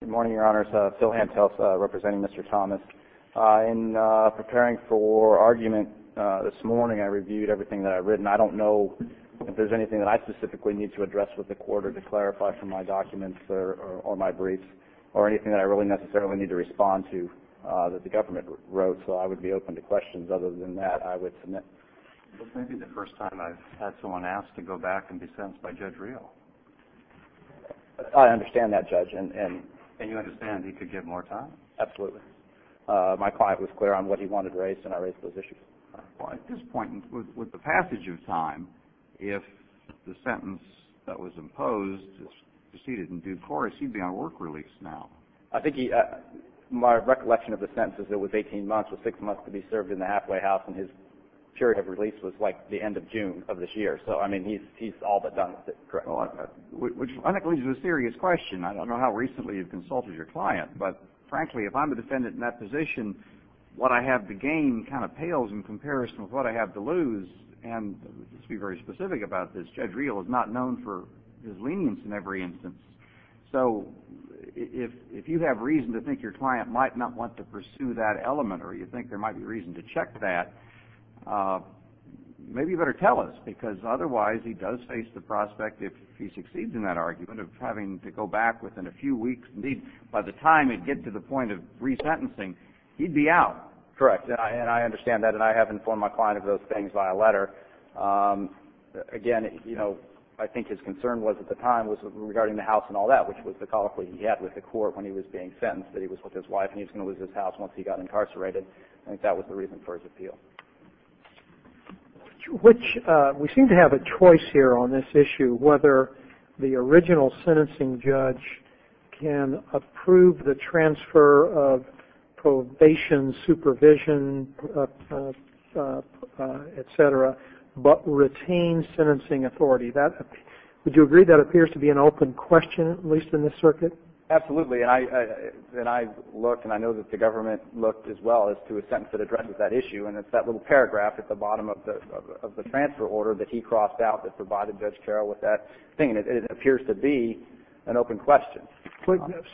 Good morning, Your Honors. Phil Hentels, representing Mr. Thomas. In preparing for argument this morning, I reviewed everything that I'd written. I don't know if there's anything that I specifically need to address with the court or to clarify from my documents or my briefs or anything that I really necessarily need to respond to that the government wrote. So I would be open to questions. Other than that, I would submit. This may be the first time I've had someone ask to go back and be sentenced by Judge Rio. I understand that, Judge. And you understand he could get more time? Absolutely. My client was clear on what he wanted raised, and I raised those issues. Well, at this point, with the passage of time, if the sentence that was imposed proceeded in due course, he'd be on work release now. I think he – my recollection of the sentence is it was 18 months, with six months to be served in the halfway house, and his period of release was like the end of June of this year. So, I mean, he's all but done with it. Correct. Which I think leads to a serious question. I don't know how recently you've consulted your client, but frankly, if I'm a defendant in that position, what I have to gain kind of pales in comparison with what I have to lose. And to be very specific about this, Judge Rio is not known for his lenience in every instance. So if you have reason to think your client might not want to pursue that element or you think there might be reason to check that, maybe you better tell us, because otherwise he does face the prospect, if he succeeds in that argument, of having to go back within a few weeks. Indeed, by the time he'd get to the point of resentencing, he'd be out. Correct. And I understand that, and I have informed my client of those things by a letter. Again, you know, I think his concern was at the time was regarding the house and all that, which was the colloquy he had with the court when he was being sentenced, that he was with his wife and he was going to lose his house once he got incarcerated. I think that was the reason for his appeal. We seem to have a choice here on this issue, whether the original sentencing judge can approve the transfer of probation, supervision, etc., but retain sentencing authority. Would you agree that appears to be an open question, at least in this circuit? Absolutely. And I look, and I know that the government looked as well, as to a sentence that addresses that issue, and it's that little paragraph at the bottom of the transfer order that he crossed out that provided Judge Carroll with that thing, and it appears to be an open question.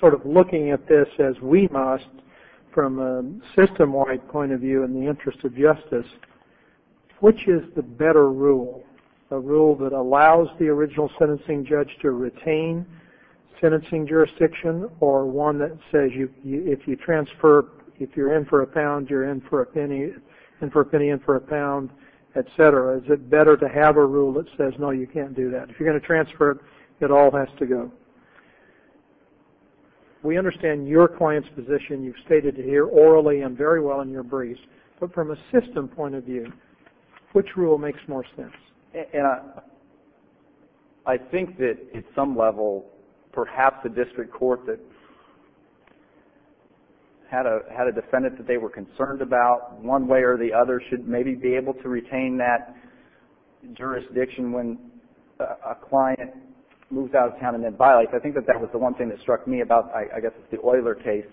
Sort of looking at this as we must, from a system-wide point of view in the interest of justice, which is the better rule, a rule that allows the original sentencing judge to retain sentencing jurisdiction, or one that says if you're in for a pound, you're in for a penny, in for a penny, in for a pound, etc., is it better to have a rule that says, no, you can't do that? If you're going to transfer, it all has to go. We understand your client's position. You've stated it here orally and very well in your briefs, but from a system point of view, which rule makes more sense? And I think that at some level, perhaps a district court that had a defendant that they were concerned about, one way or the other, should maybe be able to retain that jurisdiction when a client moves out of town and then violates. I think that that was the one thing that struck me about, I guess, the Euler case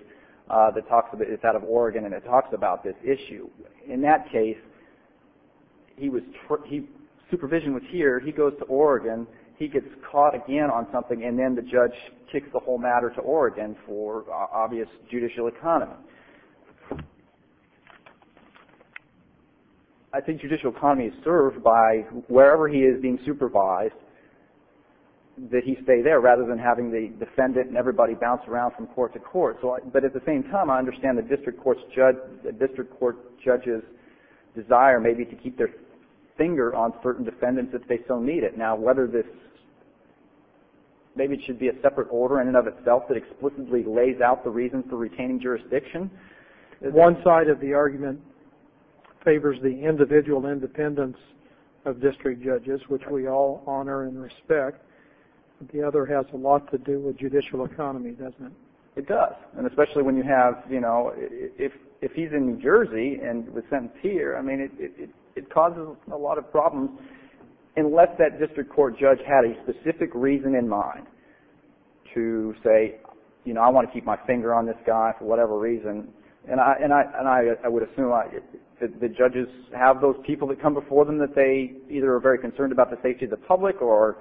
that talks about, it's out of Oregon, and it talks about this issue. In that case, supervision was here. He goes to Oregon. He gets caught again on something, and then the judge kicks the whole matter to Oregon for obvious judicial economy. I think judicial economy is served by wherever he is being supervised, that he stay there rather than having the defendant and everybody bounce around from court to court. But at the same time, I understand the district court judge's desire maybe to keep their finger on certain defendants if they so need it. Now, whether this, maybe it should be a separate order in and of itself that explicitly lays out the reason for retaining jurisdiction. One side of the argument favors the individual independence of district judges, which we all honor and respect. The other has a lot to do with judicial economy, doesn't it? It does. And especially when you have, you know, if he's in New Jersey and was sentenced here, I mean, it causes a lot of problems, unless that district court judge had a specific reason in mind to say, you know, I want to keep my finger on this guy for whatever reason. And I would assume the judges have those people that come before them that they either are very concerned about the safety of the public or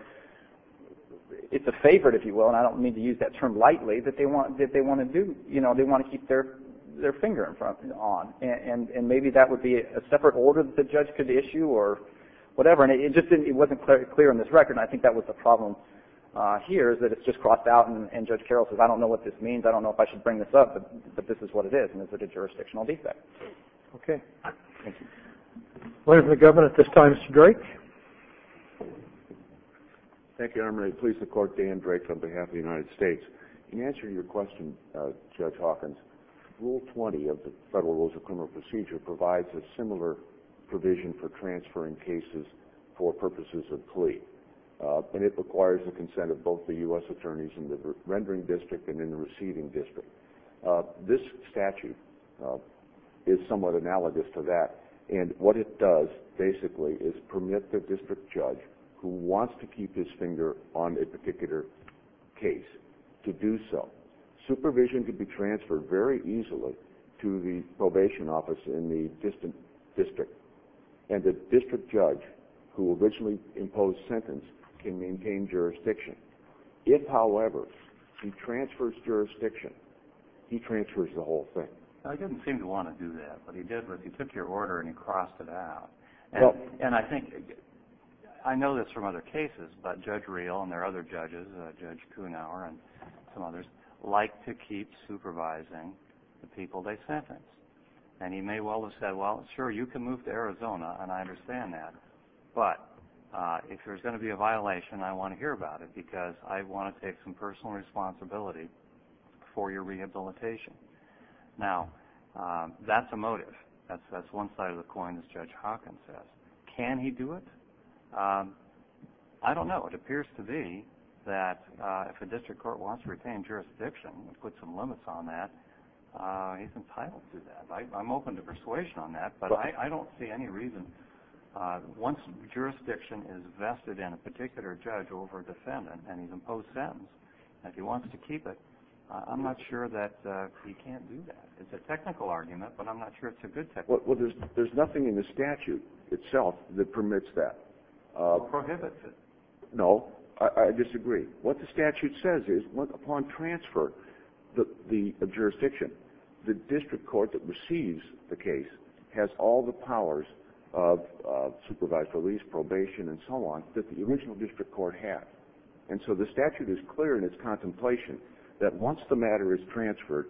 it's a favorite, if you will, and I don't mean to use that term lightly, that they want to do, you know, they want to keep their finger on. And maybe that would be a separate order that the judge could issue or whatever. And it just wasn't clear on this record, and I think that was the problem here is that it's just crossed out, and Judge Carroll says, I don't know what this means, I don't know if I should bring this up, but this is what it is, and is it a jurisdictional defect? Thank you. Ladies and gentlemen, at this time, Mr. Drake. Thank you, Your Honor. Thank you, Your Honor. I'm going to please the court, Dan Drake, on behalf of the United States. In answer to your question, Judge Hawkins, Rule 20 of the Federal Rules of Criminal Procedure provides a similar provision for transferring cases for purposes of plea, and it requires the consent of both the U.S. Attorneys in the rendering district and in the receiving district. This statute is somewhat analogous to that, and what it does, basically, is permit the district judge who wants to keep his finger on a particular case to do so. Supervision could be transferred very easily to the probation office in the distant district, and the district judge who originally imposed sentence can maintain jurisdiction. If, however, he transfers jurisdiction, he transfers the whole thing. I didn't seem to want to do that, but he did. He took your order and he crossed it out. And I think I know this from other cases, but Judge Reel and their other judges, Judge Kuhnhauer and some others, like to keep supervising the people they sentence. And he may well have said, well, sure, you can move to Arizona, and I understand that, but if there's going to be a violation, I want to hear about it because I want to take some personal responsibility for your rehabilitation. Now, that's a motive. That's one side of the coin, as Judge Hawkins says. Can he do it? I don't know. It appears to me that if a district court wants to retain jurisdiction and put some limits on that, he's entitled to that. I'm open to persuasion on that, but I don't see any reason. Once jurisdiction is vested in a particular judge over a defendant and he's imposed sentence, if he wants to keep it, I'm not sure that he can't do that. It's a technical argument, but I'm not sure it's a good technical argument. Well, there's nothing in the statute itself that permits that. It prohibits it. No, I disagree. What the statute says is, upon transfer of jurisdiction, the district court that receives the case has all the powers of supervised release, probation, and so on, that the original district court had. And so the statute is clear in its contemplation that once the matter is transferred,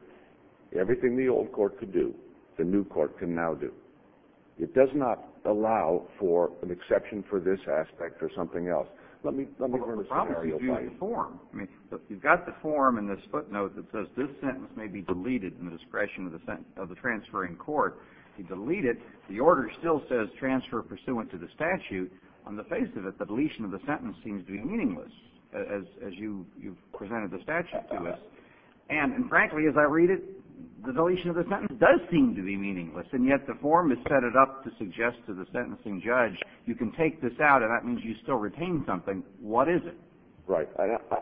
everything the old court could do, the new court can now do. It does not allow for an exception for this aspect or something else. Let me give you a scenario. You've got the form in this footnote that says, this sentence may be deleted in the discretion of the transferring court. If you delete it, the order still says, transfer pursuant to the statute. On the face of it, the deletion of the sentence seems to be meaningless, as you've presented the statute to us. And frankly, as I read it, the deletion of the sentence does seem to be meaningless, and yet the form is set up to suggest to the sentencing judge, you can take this out and that means you still retain something. What is it? Right.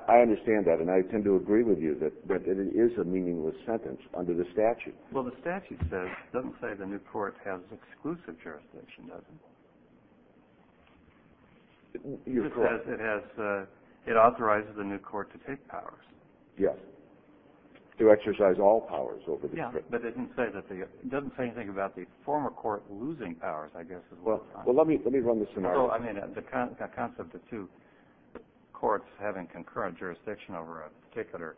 I understand that, and I tend to agree with you that it is a meaningless sentence under the statute. Well, the statute says, it doesn't say the new court has exclusive jurisdiction, does it? It just says it authorizes the new court to take powers. Yes. To exercise all powers over the district. Yeah, but it doesn't say anything about the former court losing powers, I guess, as well. Well, let me run the scenario. I mean, the concept of two courts having concurrent jurisdiction over a particular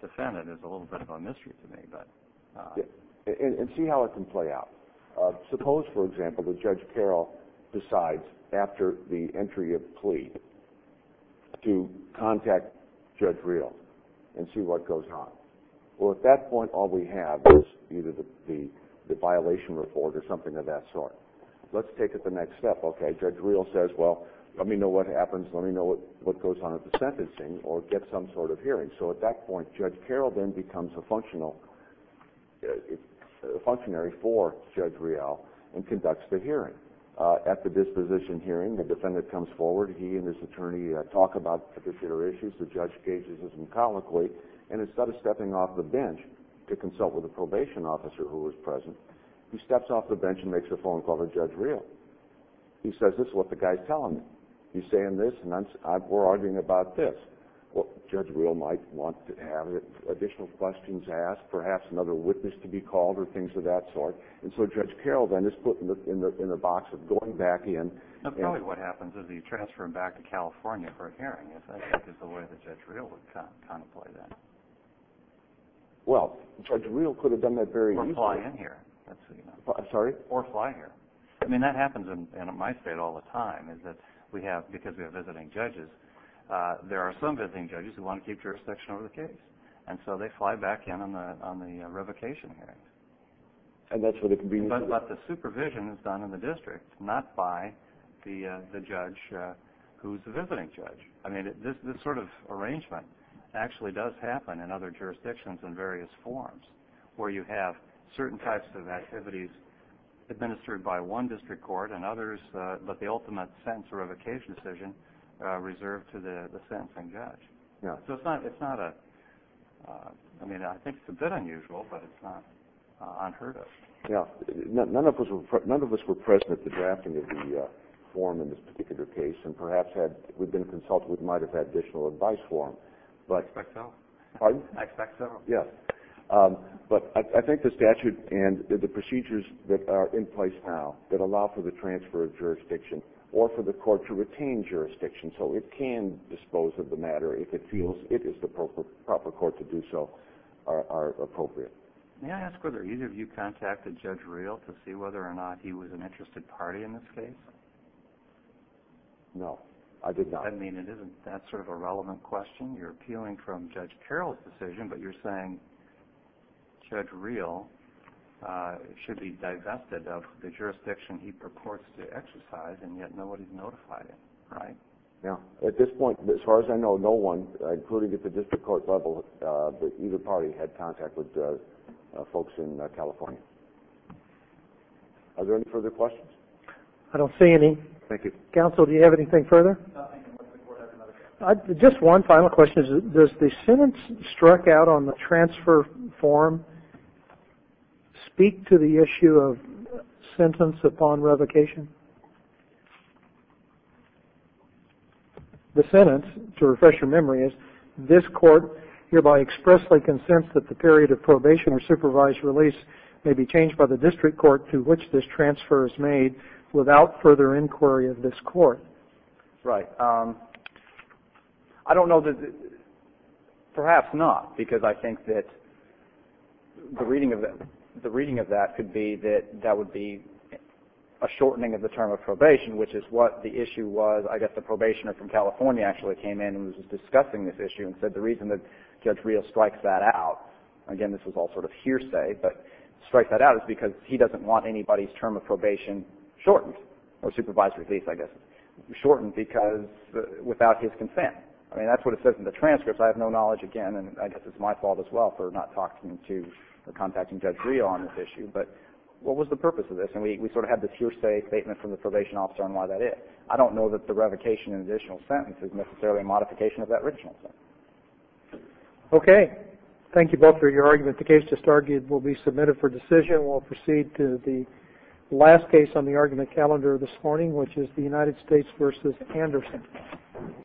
defendant is a little bit of a mystery to me. And see how it can play out. Suppose, for example, that Judge Carroll decides, after the entry of plea, to contact Judge Reel and see what goes on. Well, at that point, all we have is either the violation report or something of that sort. Let's take it the next step, okay? Judge Reel says, well, let me know what happens, let me know what goes on at the sentencing, or get some sort of hearing. So at that point, Judge Carroll then becomes a functionary for Judge Reel and conducts the hearing. At the disposition hearing, the defendant comes forward. He and his attorney talk about particular issues. The judge gazes at him colloquially. And instead of stepping off the bench to consult with the probation officer who was present, he steps off the bench and makes a phone call to Judge Reel. He says, this is what the guy is telling me. He's saying this, and we're arguing about this. Judge Reel might want to have additional questions asked, perhaps another witness to be called or things of that sort. And so Judge Carroll then is put in the box of going back in. Probably what happens is he's transferred back to California for a hearing. I think that's the way that Judge Reel would contemplate that. Well, Judge Reel could have done that very easily. Or fly in here. I'm sorry? Or fly here. I mean, that happens in my state all the time, is that we have, because we have visiting judges, there are some visiting judges who want to keep jurisdiction over the case. And so they fly back in on the revocation hearing. But the supervision is done in the district, not by the judge who is the visiting judge. I mean, this sort of arrangement actually does happen in other jurisdictions in various forms, where you have certain types of activities administered by one district court and others, but the ultimate sentence or revocation decision is reserved to the sentencing judge. So it's not a, I mean, I think it's a bit unusual, but it's not unheard of. Yeah. None of us were present at the drafting of the form in this particular case, and perhaps we'd been consulted and might have had additional advice for them. I expect so. Pardon? I expect so. Yeah. But I think the statute and the procedures that are in place now that allow for the transfer of jurisdiction or for the court to retain jurisdiction, so it can dispose of the matter if it feels it is the proper court to do so, are appropriate. May I ask whether either of you contacted Judge Real to see whether or not he was an interested party in this case? No, I did not. I mean, it isn't that sort of a relevant question. You're appealing from Judge Carroll's decision, but you're saying Judge Real should be divested of the jurisdiction he purports to exercise, and yet nobody's notified him, right? Yeah. At this point, as far as I know, no one, including at the district court level, but either party had contact with folks in California. Are there any further questions? I don't see any. Thank you. Counsel, do you have anything further? Just one final question. Does the sentence struck out on the transfer form speak to the issue of sentence upon revocation? The sentence, to refresh your memory, is, this court hereby expressly consents that the period of probation or supervised release may be changed by the district court to which this transfer is made without further inquiry of this court. Right. I don't know, perhaps not, because I think that the reading of that could be that that would be a shortening of the term of probation, which is what the issue was. I guess the probationer from California actually came in and was discussing this issue and said the reason that Judge Real strikes that out, again, this was all sort of hearsay, but strikes that out is because he doesn't want anybody's term of probation shortened, or supervised release, I guess, shortened because without his consent. I mean, that's what it says in the transcripts. I have no knowledge, again, and I guess it's my fault as well for not contacting Judge Real on this issue, but what was the purpose of this? And we sort of had this hearsay statement from the probation officer on why that is. I don't know that the revocation and additional sentence is necessarily a modification of that original sentence. Okay. Thank you both for your argument. The case just argued will be submitted for decision. We'll proceed to the last case on the argument calendar this morning, which is the United States v. Anderson.